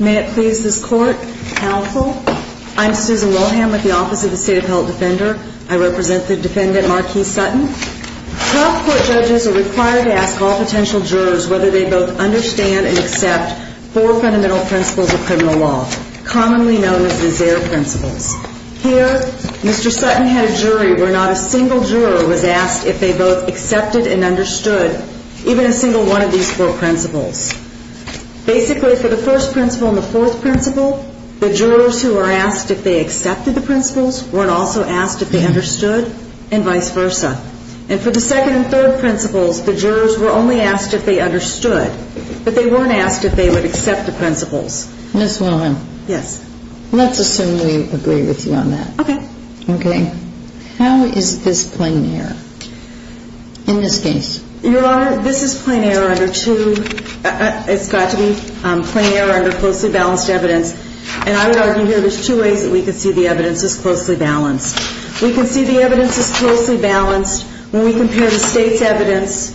May it please this Court, Counsel, I'm Susan Wilhelms, and I'm here on behalf of the Office of the State Appellate Defender. I represent the Defendant Marquis Sutton. Health Court judges are required to ask all potential jurors whether they both understand and accept four fundamental principles of criminal law, commonly known as the Zare Principles. Here, Mr. Sutton had a jury where not a single juror was asked if they both accepted and understood even a single one of these four principles. Basically, for the first principle and the fourth principle, the jurors who are asked if they accepted the principles weren't also asked if they understood and vice versa. And for the second and third principles, the jurors were only asked if they understood, but they weren't asked if they would accept the principles. Ms. Wilhelm. Yes. Let's assume we agree with you on that. Okay. Okay. How is this plain error in this case? Your Honor, this is plain error under two – it's got to be plain error under two principles. First of all, the evidence is closely balanced. And I would argue here there's two ways that we can see the evidence is closely balanced. We can see the evidence is closely balanced when we compare the State's evidence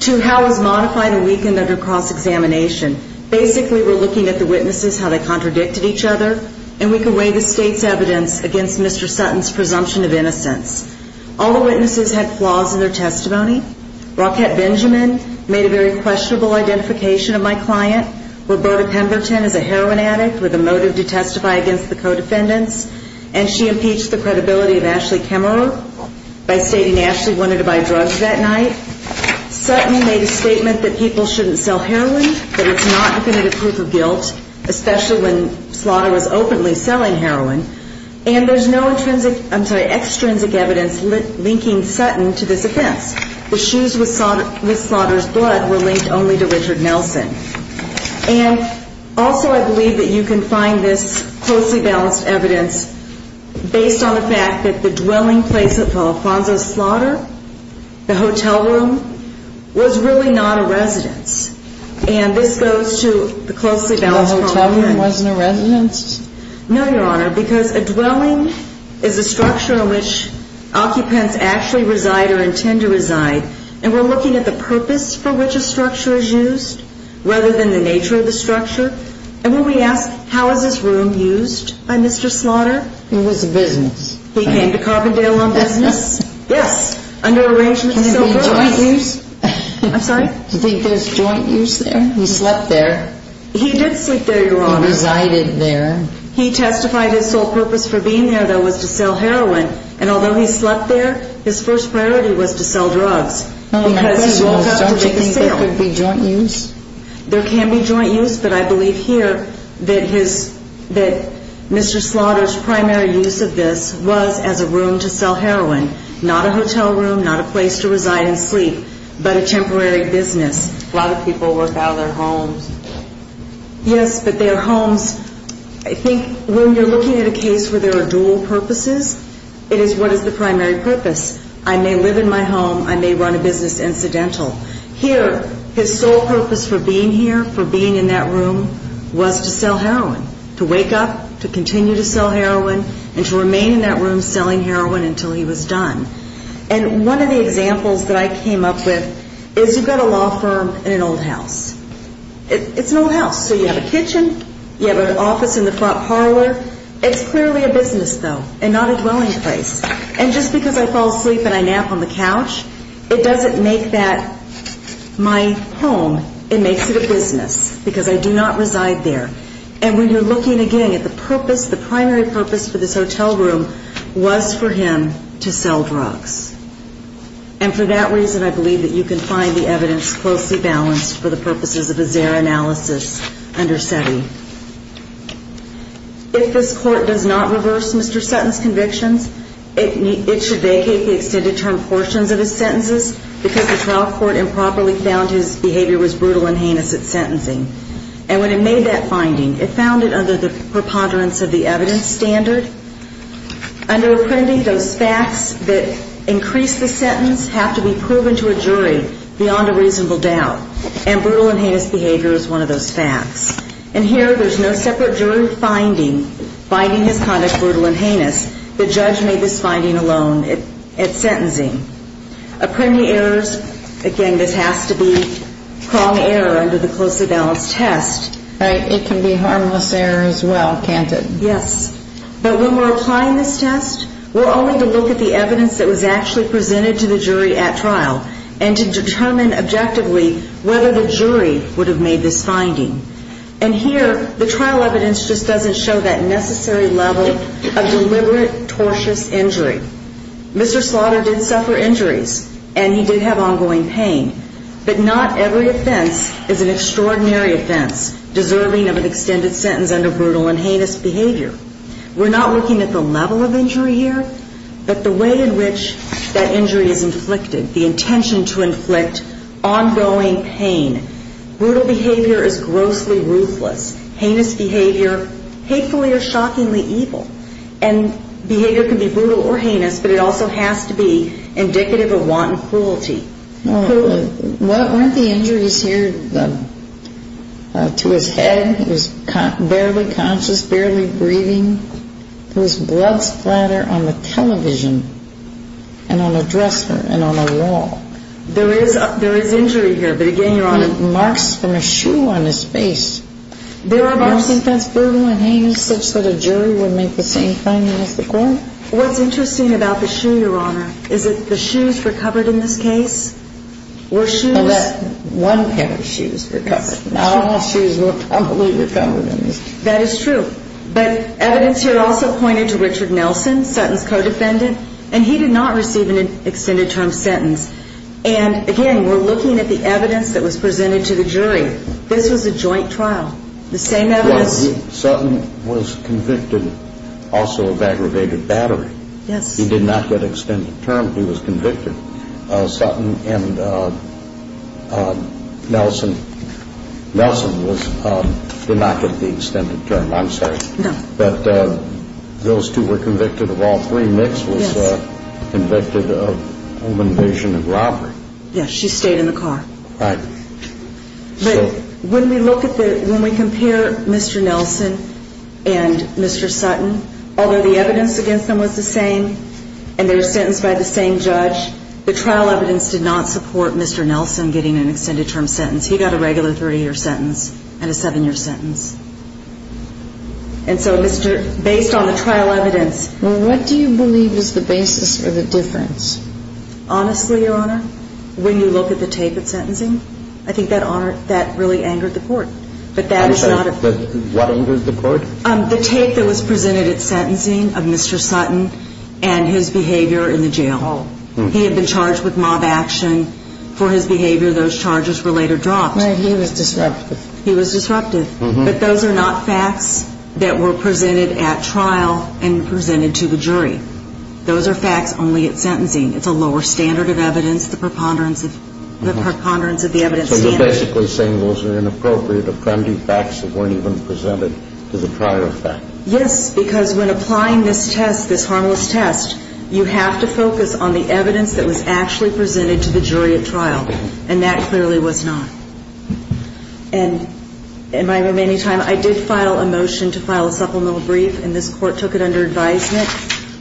to how it was modified and weakened under cross-examination. Basically, we're looking at the witnesses, how they contradicted each other, and we can weigh the State's evidence against Mr. Sutton's presumption of innocence. All the witnesses had flaws in their testimony. Rockette Benjamin made a very questionable identification of my client. Roberta Pemberton is a heroin addict with a motive to testify against the co-defendants. And she impeached the credibility of Ashley Kemmerer by stating Ashley wanted to buy drugs that night. Sutton made a statement that people shouldn't sell heroin, that it's not definitive proof of guilt, especially when slaughter is openly selling heroin. And there's no extrinsic evidence linking Sutton to this offense. The shoes with slaughter's blood were linked only to And also I believe that you can find this closely balanced evidence based on the fact that the dwelling place of Alfonso's slaughter, the hotel room, was really not a residence. And this goes to the closely balanced... The hotel room wasn't a residence? No, Your Honor, because a dwelling is a structure in which occupants actually reside or intend to reside. And we're looking at the purpose for which a And when we ask, how is this room used by Mr. Slaughter? It was a business. He came to Carbondale on business? Yes. Under arrangements to sell drugs? Can there be joint use? I'm sorry? Do you think there's joint use there? He slept there. He did sleep there, Your Honor. He resided there. He testified his sole purpose for being there, though, was to sell heroin. And although he slept there, his first priority was to sell drugs. Because he woke up to make a sale. Don't you think there could be joint use? There can be joint use, but I believe here that his Mr. Slaughter's primary use of this was as a room to sell heroin. Not a hotel room, not a place to reside and sleep, but a temporary business. A lot of people work out of their homes. Yes, but their homes, I think when you're looking at a case where there are dual purposes, it is what is the primary purpose. I may live in my home, I may run a business incidental. Here, his sole purpose for being here, for being in that room, was to sell heroin. To wake up, to continue to sell heroin, and to remain in that room selling heroin until he was done. And one of the examples that I came up with is you've got a law firm in an old house. It's an old house, so you have a kitchen, you have an office in the front parlor. It's clearly a business, though, and not a dwelling place. And just because I fall asleep and I nap on the couch, it doesn't make that my home. It makes it a business, because I do not reside there. And when you're looking, again, at the purpose, the primary purpose for this hotel room was for him to sell drugs. And for that reason, I believe that you can find the evidence closely balanced for the purposes of a Zara analysis under SETI. If this court does not reverse Mr. Sutton's convictions, it should vacate the extended term portions of his sentences, because the trial court improperly found his behavior was brutal and heinous at sentencing. And when it made that finding, it found it under the preponderance of the evidence standard. Under Apprendi, those facts that increase the sentence have to be proven to a jury beyond a reasonable doubt. And brutal and heinous behavior is one of those facts. And here, there's no separate jury finding, finding his conduct brutal and heinous. The judge made this finding alone at sentencing. Apprendi errors, again, this has to be prong error under the closely balanced test. Right. It can be harmless error as well, can't it? Yes. But when we're applying this test, we're only to look at the evidence that was actually presented to the jury at trial, and to determine objectively whether the jury would have made this finding. And here, the trial evidence just doesn't show that necessary level of deliberate, tortious injury. Mr. Slaughter did suffer injuries, and he did have ongoing pain. But not every offense is an extraordinary offense deserving of an extended sentence under brutal and heinous behavior. We're not looking at the level of injury here, but the way in which that injury is inflicted, the intention to inflict ongoing pain. Brutal behavior is grossly ruthless. Heinous behavior, hatefully or shockingly evil. And behavior can be brutal or heinous, but it also has to be indicative of wanton cruelty. Weren't the injuries here to his head? He was barely conscious, barely breathing. There was blood splatter on the television, and on a dresser, and on a wall. There is injury here, but again, Your Honor. And marks from a shoe on his face. There are marks. Don't you think that's brutal and heinous, such that a jury would make the same finding as the court? What's interesting about the shoe, Your Honor, is that the shoes recovered in this case were shoes. And that one pair of shoes recovered. Not all shoes were probably recovered in this case. That is true. But evidence here also pointed to Richard Nelson, Sutton's co-defendant, and he did not receive an extended term sentence. And again, we're looking at the evidence that was presented to the jury. This was a joint trial. The same evidence. Sutton was convicted also of aggravated battery. Yes. He did not get extended term. He was convicted. Sutton and Nelson did not get the extended term. I'm sorry. No. But those two were convicted of all three. Nix was convicted of home invasion and robbery. Yes. She stayed in the car. Right. But when we compare Mr. Nelson and Mr. Sutton, although the evidence against them was the same and they were sentenced by the same judge, the trial evidence did not support Mr. Nelson getting an extended term sentence. He got a regular 30-year sentence and a seven-year sentence. And so, Mr. – based on the trial evidence – Well, what do you believe is the basis of the difference? Honestly, Your Honor, when you look at the tape of sentencing, I think that really angered the court. But that is not a – What angered the court? The tape that was presented at sentencing of Mr. Sutton and his behavior in the jail. Oh. He had been charged with mob action. For his behavior, those charges were later dropped. Right. He was disrupted. He was disrupted. But those are not facts that were presented at trial and presented to the jury. Those are facts only at sentencing. It's a lower standard of evidence, the preponderance of the evidence standard. So you're basically saying those are inappropriate, Yes, because when applying this test, this harmless test, you have to focus on the evidence that was actually presented to the jury at trial. And that clearly was not. And in my remaining time, I did file a motion to file a supplemental brief, and this court took it under advisement.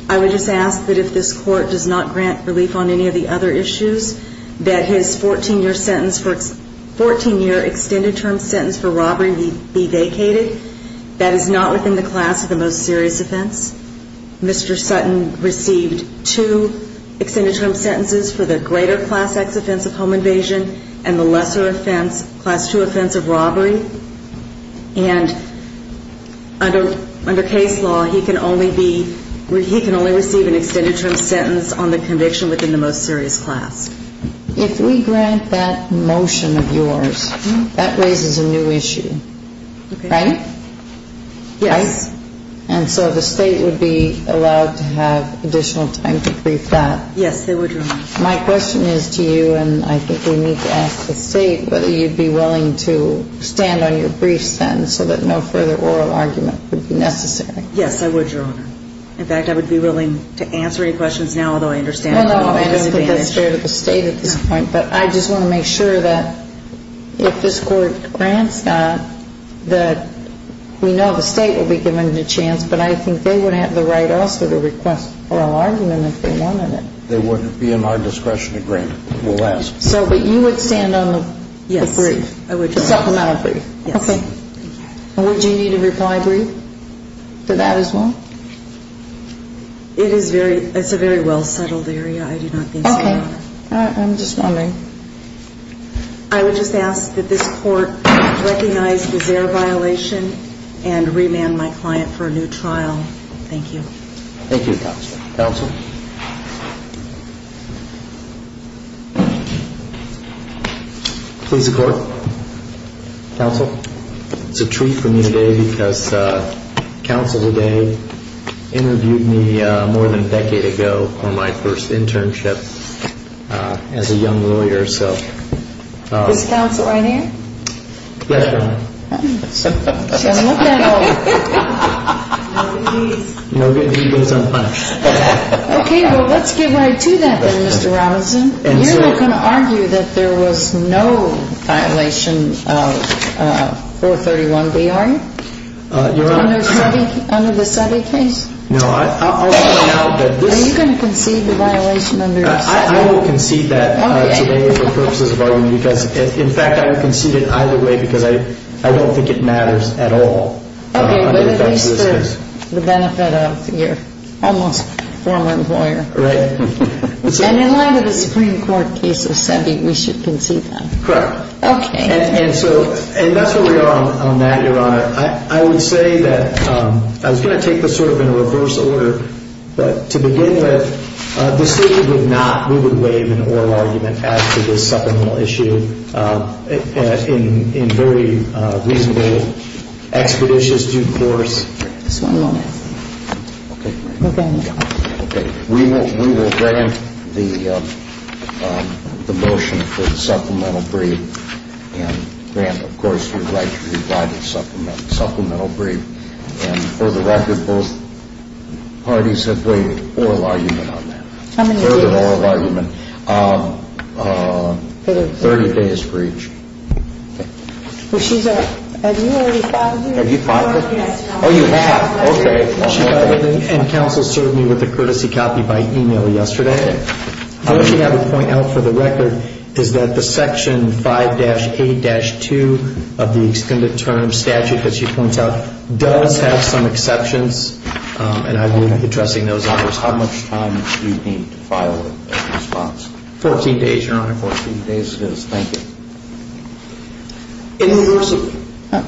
I would just ask that if this court does not grant relief on any of the other issues, that his 14-year sentence for – 14-year extended term sentence for Mr. Sutton for robbery be vacated. That is not within the class of the most serious offense. Mr. Sutton received two extended term sentences for the greater Class X offense of home invasion and the lesser offense, Class II offense of robbery. And under case law, he can only be – he can only receive an extended term sentence on the conviction within the most serious class. If we grant that motion of yours, that raises a new issue. Okay. Right? Yes. Right? And so the State would be allowed to have additional time to brief that. Yes, they would, Your Honor. My question is to you, and I think we need to ask the State whether you'd be willing to stand on your brief sentence so that no further oral argument would be necessary. Yes, I would, Your Honor. In fact, I would be willing to answer any questions now, although I understand that's fair to the State at this point. But I just want to make sure that if this Court grants that, that we know the State will be given a chance, but I think they would have the right also to request oral argument if they wanted it. They wouldn't be in our discretion agreement, we'll ask. So, but you would stand on the brief? Yes, I would. The supplemental brief? Yes. Okay. And would you need a reply brief for that as well? It is a very well-settled area, I do not think so, Your Honor. Okay. I'm just wondering. I would just ask that this Court recognize the Zaire violation and remand my client for a new trial. Thank you. Thank you, Counsel. Counsel. Please, the Court. Counsel. It's a treat for me today because Counsel today interviewed me more than a decade ago for my first internship as a young lawyer, so. Is Counsel right here? Yes, Your Honor. She doesn't look that old. No good deed goes unpunished. Okay, well, let's get right to that then, Mr. Robinson. You're not going to argue that there was no violation of 431B, are you? Your Honor. Under the Sutter case? No, I'll point out that this. Are you going to concede the violation under the Sutter case? I will concede that today for purposes of argument because, in fact, I will concede it either way because I don't think it matters at all. Okay, but at least the benefit of your almost former employer. Right. And in light of a Supreme Court case of sending, we should concede that. Correct. Okay. And so that's where we are on that, Your Honor. I would say that I was going to take this sort of in a reverse order, but to begin with, the State would not, we would waive an oral argument as to this supplemental issue in very reasonable, expeditious due course. Just one moment. Okay. Okay. We will grant the motion for the supplemental brief and grant, of course, the right to provide the supplemental brief. And for the record, both parties have waived oral argument on that. How many days? Further oral argument, 30 days for each. Okay. Well, she's a, have you already filed it? Have you filed it? Oh, you have. Okay. And counsel served me with a courtesy copy by e-mail yesterday. The only thing I would point out for the record is that the Section 5-A-2 of the Extended Terms Statute that she points out does have some exceptions, and I will be addressing those in response. How much time do you need to file a response? Fourteen days, Your Honor. Fourteen days it is. Thank you. In reverse order.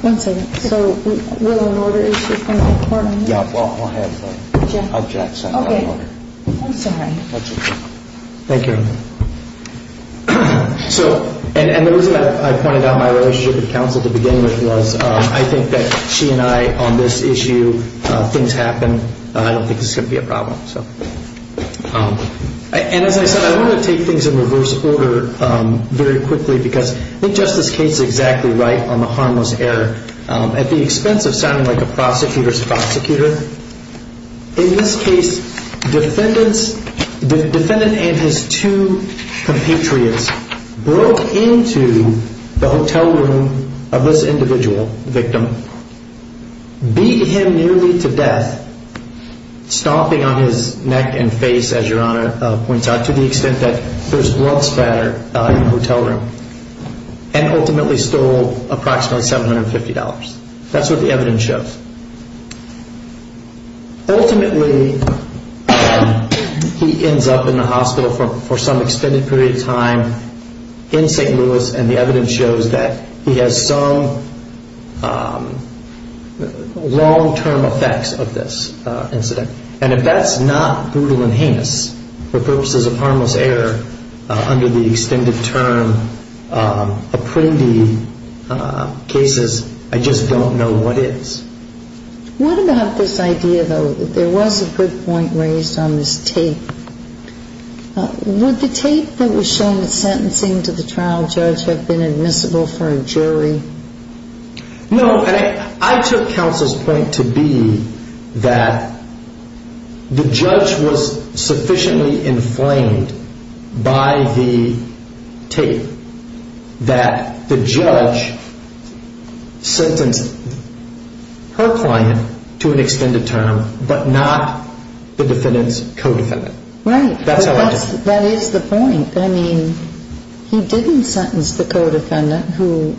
One second. So will an order issue come before me? Yeah, we'll have objects. Okay. I'm sorry. That's okay. Thank you. And the reason I pointed out my relationship with counsel at the beginning was I think that she and I on this issue, things happen, I don't think this is going to be a problem. And as I said, I want to take things in reverse order very quickly because I think Justice Cates is exactly right on the harmless error. At the expense of sounding like a prosecutor's prosecutor, in this case, the defendant and his two compatriots broke into the hotel room of this individual victim, beat him nearly to death, stomping on his neck and face, as Your Honor points out, to the extent that there's blood splatter in the hotel room, and ultimately stole approximately $750. That's what the evidence shows. Ultimately, he ends up in the hospital for some extended period of time in St. Louis, and the evidence shows that he has some long-term effects of this incident. And if that's not brutal and heinous for purposes of harmless error under the extended term apprendi cases, I just don't know what is. What about this idea, though, that there was a good point raised on this tape? Would the tape that was shown sentencing to the trial judge have been admissible for a jury? No. I took counsel's point to be that the judge was sufficiently inflamed by the tape that the judge sentenced her client to an extended term but not the defendant's co-defendant. Right. That is the point. I mean, he didn't sentence the co-defendant who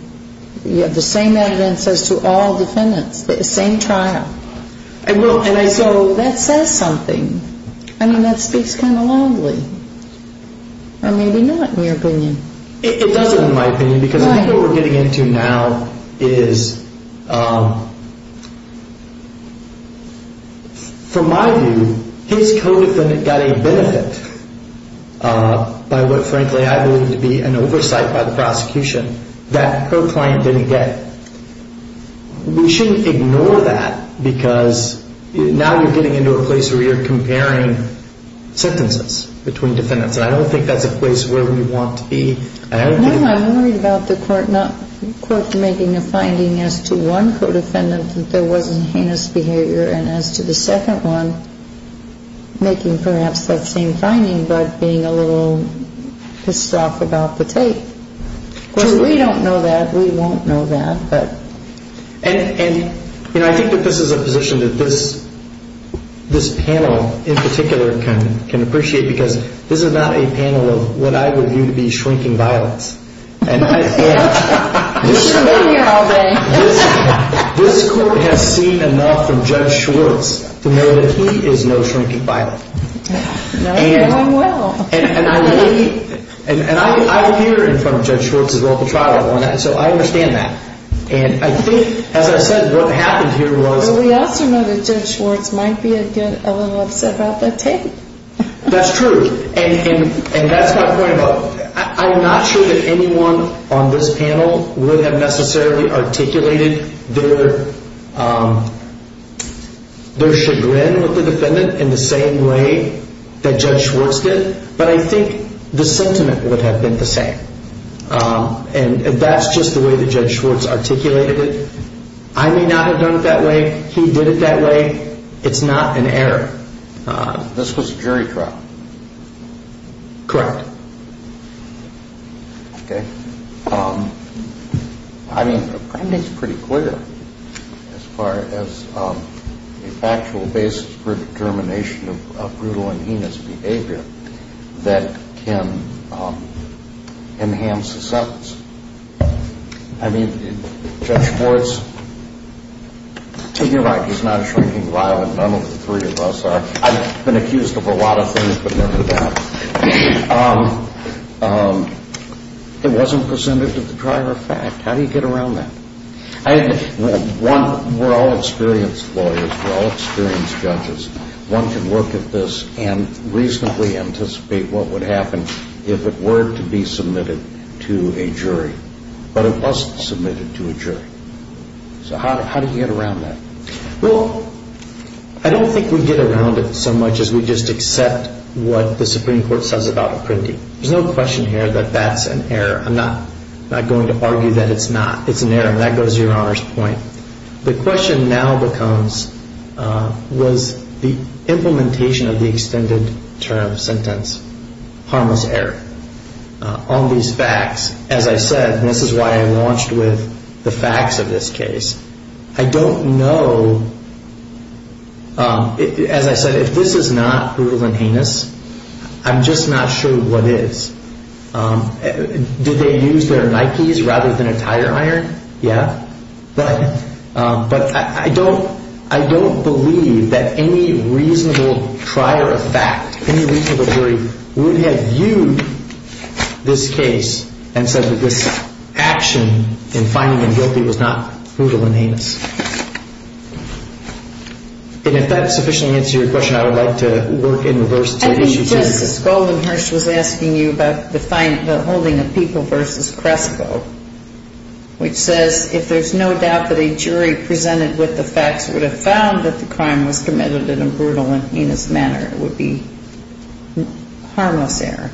had the same evidence as to all defendants, the same trial. And so that says something. I mean, that speaks kind of loudly, or maybe not in your opinion. It doesn't in my opinion because I think what we're getting into now is, from my view, his co-defendant got a benefit by what frankly I believe to be an oversight by the prosecution that her client didn't get. We shouldn't ignore that because now you're getting into a place where you're comparing sentences between defendants. And I don't think that's a place where we want to be. No, I'm worried about the court not making a finding as to one co-defendant that there wasn't heinous behavior and as to the second one making perhaps that same finding but being a little pissed off about the tape. So we don't know that. We won't know that. And, you know, I think that this is a position that this panel in particular can appreciate because this is not a panel of what I would view to be shrinking violence. You've been here all day. This court has seen enough from Judge Schwartz to know that he is no shrinking violent. No, no, I'm well. And I'm here in front of Judge Schwartz's local trial, so I understand that. And I think, as I said, what happened here was... Well, we also know that Judge Schwartz might be a little upset about that tape. That's true, and that's my point about it. I'm not sure that anyone on this panel would have necessarily articulated their chagrin with the defendant in the same way that Judge Schwartz did, but I think the sentiment would have been the same. And that's just the way that Judge Schwartz articulated it. I may not have done it that way. He did it that way. It's not an error. This was a jury trial. Correct. Okay. I mean, the crime date's pretty clear as far as a factual basis for determination of brutal and heinous behavior that can enhance a sentence. I mean, Judge Schwartz, to your right, is not a shrinking violent. None of the three of us are. I've been accused of a lot of things, but never that. It wasn't presented to the driver of fact. How do you get around that? We're all experienced lawyers. We're all experienced judges. One can look at this and reasonably anticipate what would happen if it were to be submitted to a jury, but it wasn't submitted to a jury. So how do you get around that? Well, I don't think we get around it so much as we just accept what the Supreme Court says about a printing. There's no question here that that's an error. I'm not going to argue that it's not. It's an error, and that goes to Your Honor's point. The question now becomes was the implementation of the extended term sentence harmless error on these facts. As I said, this is why I launched with the facts of this case. I don't know. As I said, if this is not brutal and heinous, I'm just not sure what is. Did they use their Nikes rather than a tire iron? Yeah. But I don't believe that any reasonable trier of fact, any reasonable jury, would have viewed this case and said that this action in finding them guilty was not brutal and heinous. And if that sufficiently answers your question, I would like to work in reverse to issue two. Justice Goldenhurst was asking you about the holding of People v. Crespo, which says if there's no doubt that a jury presented with the facts would have found that the crime was committed in a brutal and heinous manner, it would be harmless error.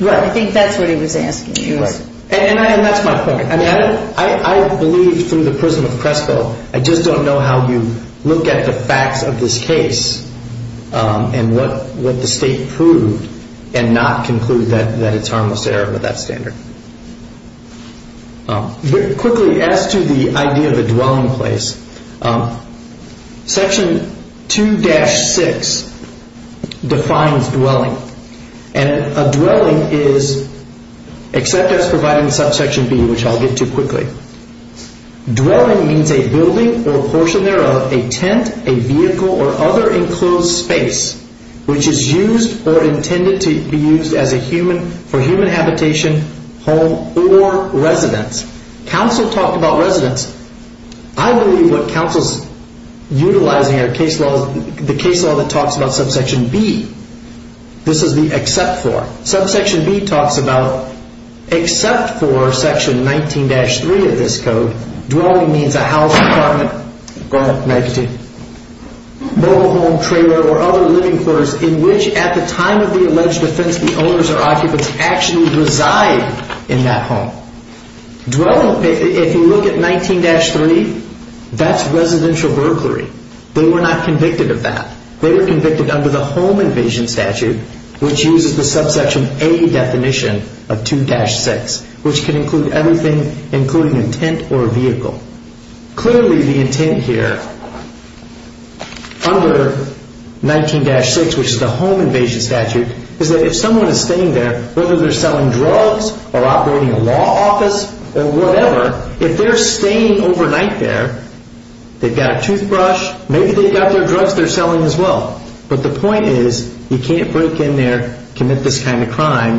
Right. I think that's what he was asking you. Right. And that's my point. I believe through the prism of Crespo. I just don't know how you look at the facts of this case and what the state proved and not conclude that it's harmless error by that standard. Quickly, as to the idea of a dwelling place, Section 2-6 defines dwelling. And a dwelling is, except as provided in Subsection B, which I'll get to quickly. Dwelling means a building or portion thereof, a tent, a vehicle, or other enclosed space, which is used or intended to be used for human habitation, home, or residence. Counsel talked about residence. I believe what counsel's utilizing are the case law that talks about Subsection B. This is the except for. Subsection B talks about except for Section 19-3 of this code, dwelling means a house, apartment, or mobile home, trailer, or other living quarters in which, at the time of the alleged offense, the owners or occupants actually reside in that home. If you look at 19-3, that's residential burglary. They were not convicted of that. They were convicted under the home invasion statute, which uses the Subsection A definition of 2-6, which can include everything including a tent or a vehicle. Clearly, the intent here under 19-6, which is the home invasion statute, is that if someone is staying there, whether they're selling drugs or operating a law office or whatever, if they're staying overnight there, they've got a toothbrush. Maybe they've got their drugs they're selling as well. But the point is you can't break in there, commit this kind of crime,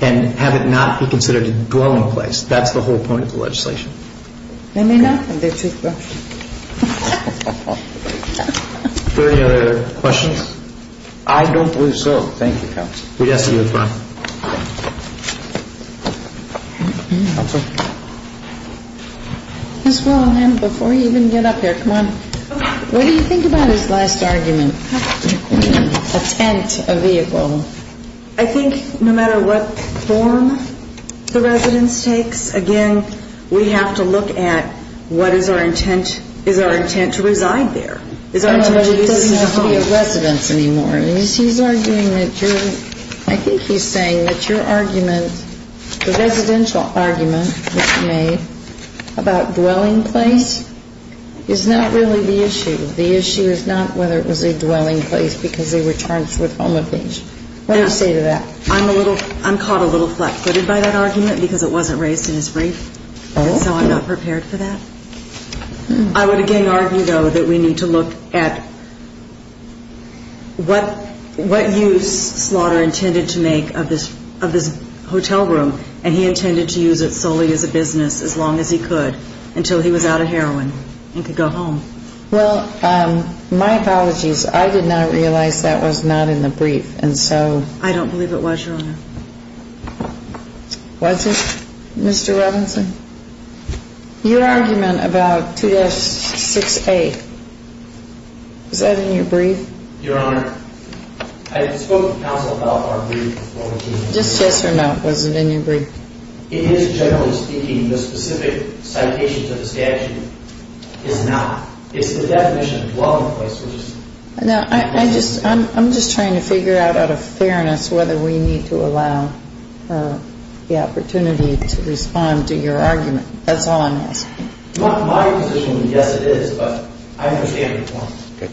and have it not be considered a dwelling place. That's the whole point of the legislation. They may not have their toothbrush. Are there any other questions? I don't believe so. Thank you, Counsel. We'd ask that you adjourn. Counsel? Ms. Willingham, before you even get up here, come on. What do you think about his last argument, a tent, a vehicle? I think no matter what form the residence takes, again, we have to look at what is our intent. Is our intent to reside there? It doesn't have to be a residence anymore. He's arguing that you're ‑‑ I think he's saying that your argument, the residential argument that you made about dwelling place is not really the issue. The issue is not whether it was a dwelling place because they were charged with home invasion. What do you say to that? I'm caught a little flat-footed by that argument because it wasn't raised in his brief. So I'm not prepared for that. I would again argue, though, that we need to look at what use Slaughter intended to make of this hotel room, and he intended to use it solely as a business as long as he could until he was out of heroin and could go home. Well, my apologies. I did not realize that was not in the brief, and so ‑‑ I don't believe it was, Your Honor. Was it, Mr. Robinson? Your argument about 2-6A, was that in your brief? Your Honor, I spoke to counsel about our brief. Just yes or no, was it in your brief? It is, generally speaking. The specific citation to the statute is not. It's the definition of dwelling place, which is ‑‑ I'm just trying to figure out, out of fairness, whether we need to allow her the opportunity to respond to your argument. That's all I'm asking. My position is yes, it is, but I understand it was. Okay.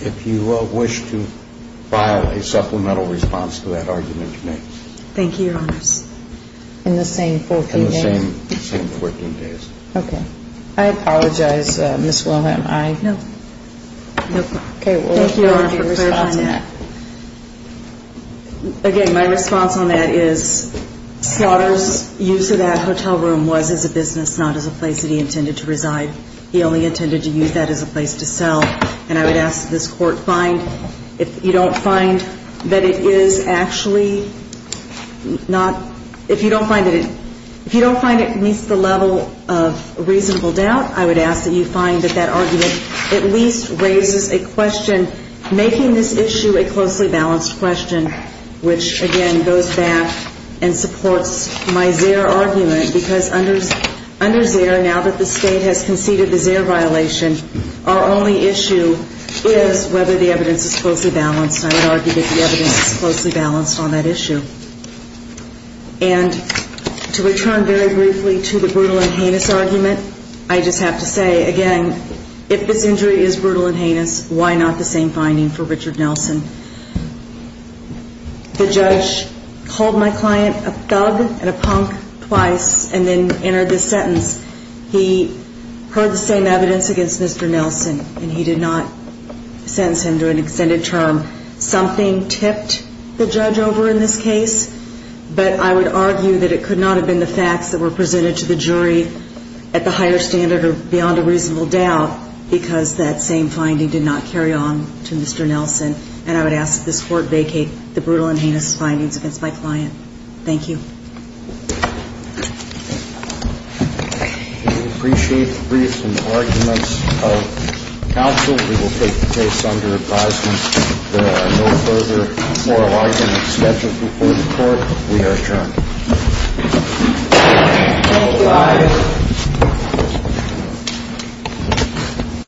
If you wish to file a supplemental response to that argument, you may. Thank you, Your Honor. In the same 14 days? In the same 14 days. Okay. I apologize, Ms. Wilhelm. No. Okay. Thank you, Your Honor, for clarifying that. Again, my response on that is, Slaughter's use of that hotel room was as a business, not as a place that he intended to reside. He only intended to use that as a place to sell, and I would ask that this Court find, if you don't find that it is actually not ‑‑ if you don't find that it meets the level of reasonable doubt, I would ask that you find that that argument at least raises a question, making this issue a closely balanced question, which, again, goes back and supports my Zehr argument, because under Zehr, now that the State has conceded the Zehr violation, our only issue is whether the evidence is closely balanced. I would argue that the evidence is closely balanced on that issue. And to return very briefly to the brutal and heinous argument, I just have to say, again, if this injury is brutal and heinous, why not the same finding for Richard Nelson? The judge called my client a thug and a punk twice and then entered this sentence. He heard the same evidence against Mr. Nelson, and he did not sentence him to an extended term. Something tipped the judge over in this case, but I would argue that it could not have been the facts that were presented to the jury at the higher standard or beyond a reasonable doubt because that same finding did not carry on to Mr. Nelson. And I would ask that this Court vacate the brutal and heinous findings against my client. Thank you. We appreciate the briefs and arguments of counsel. We will take the case under advisement. There are no further oral arguments scheduled before the Court. We are adjourned.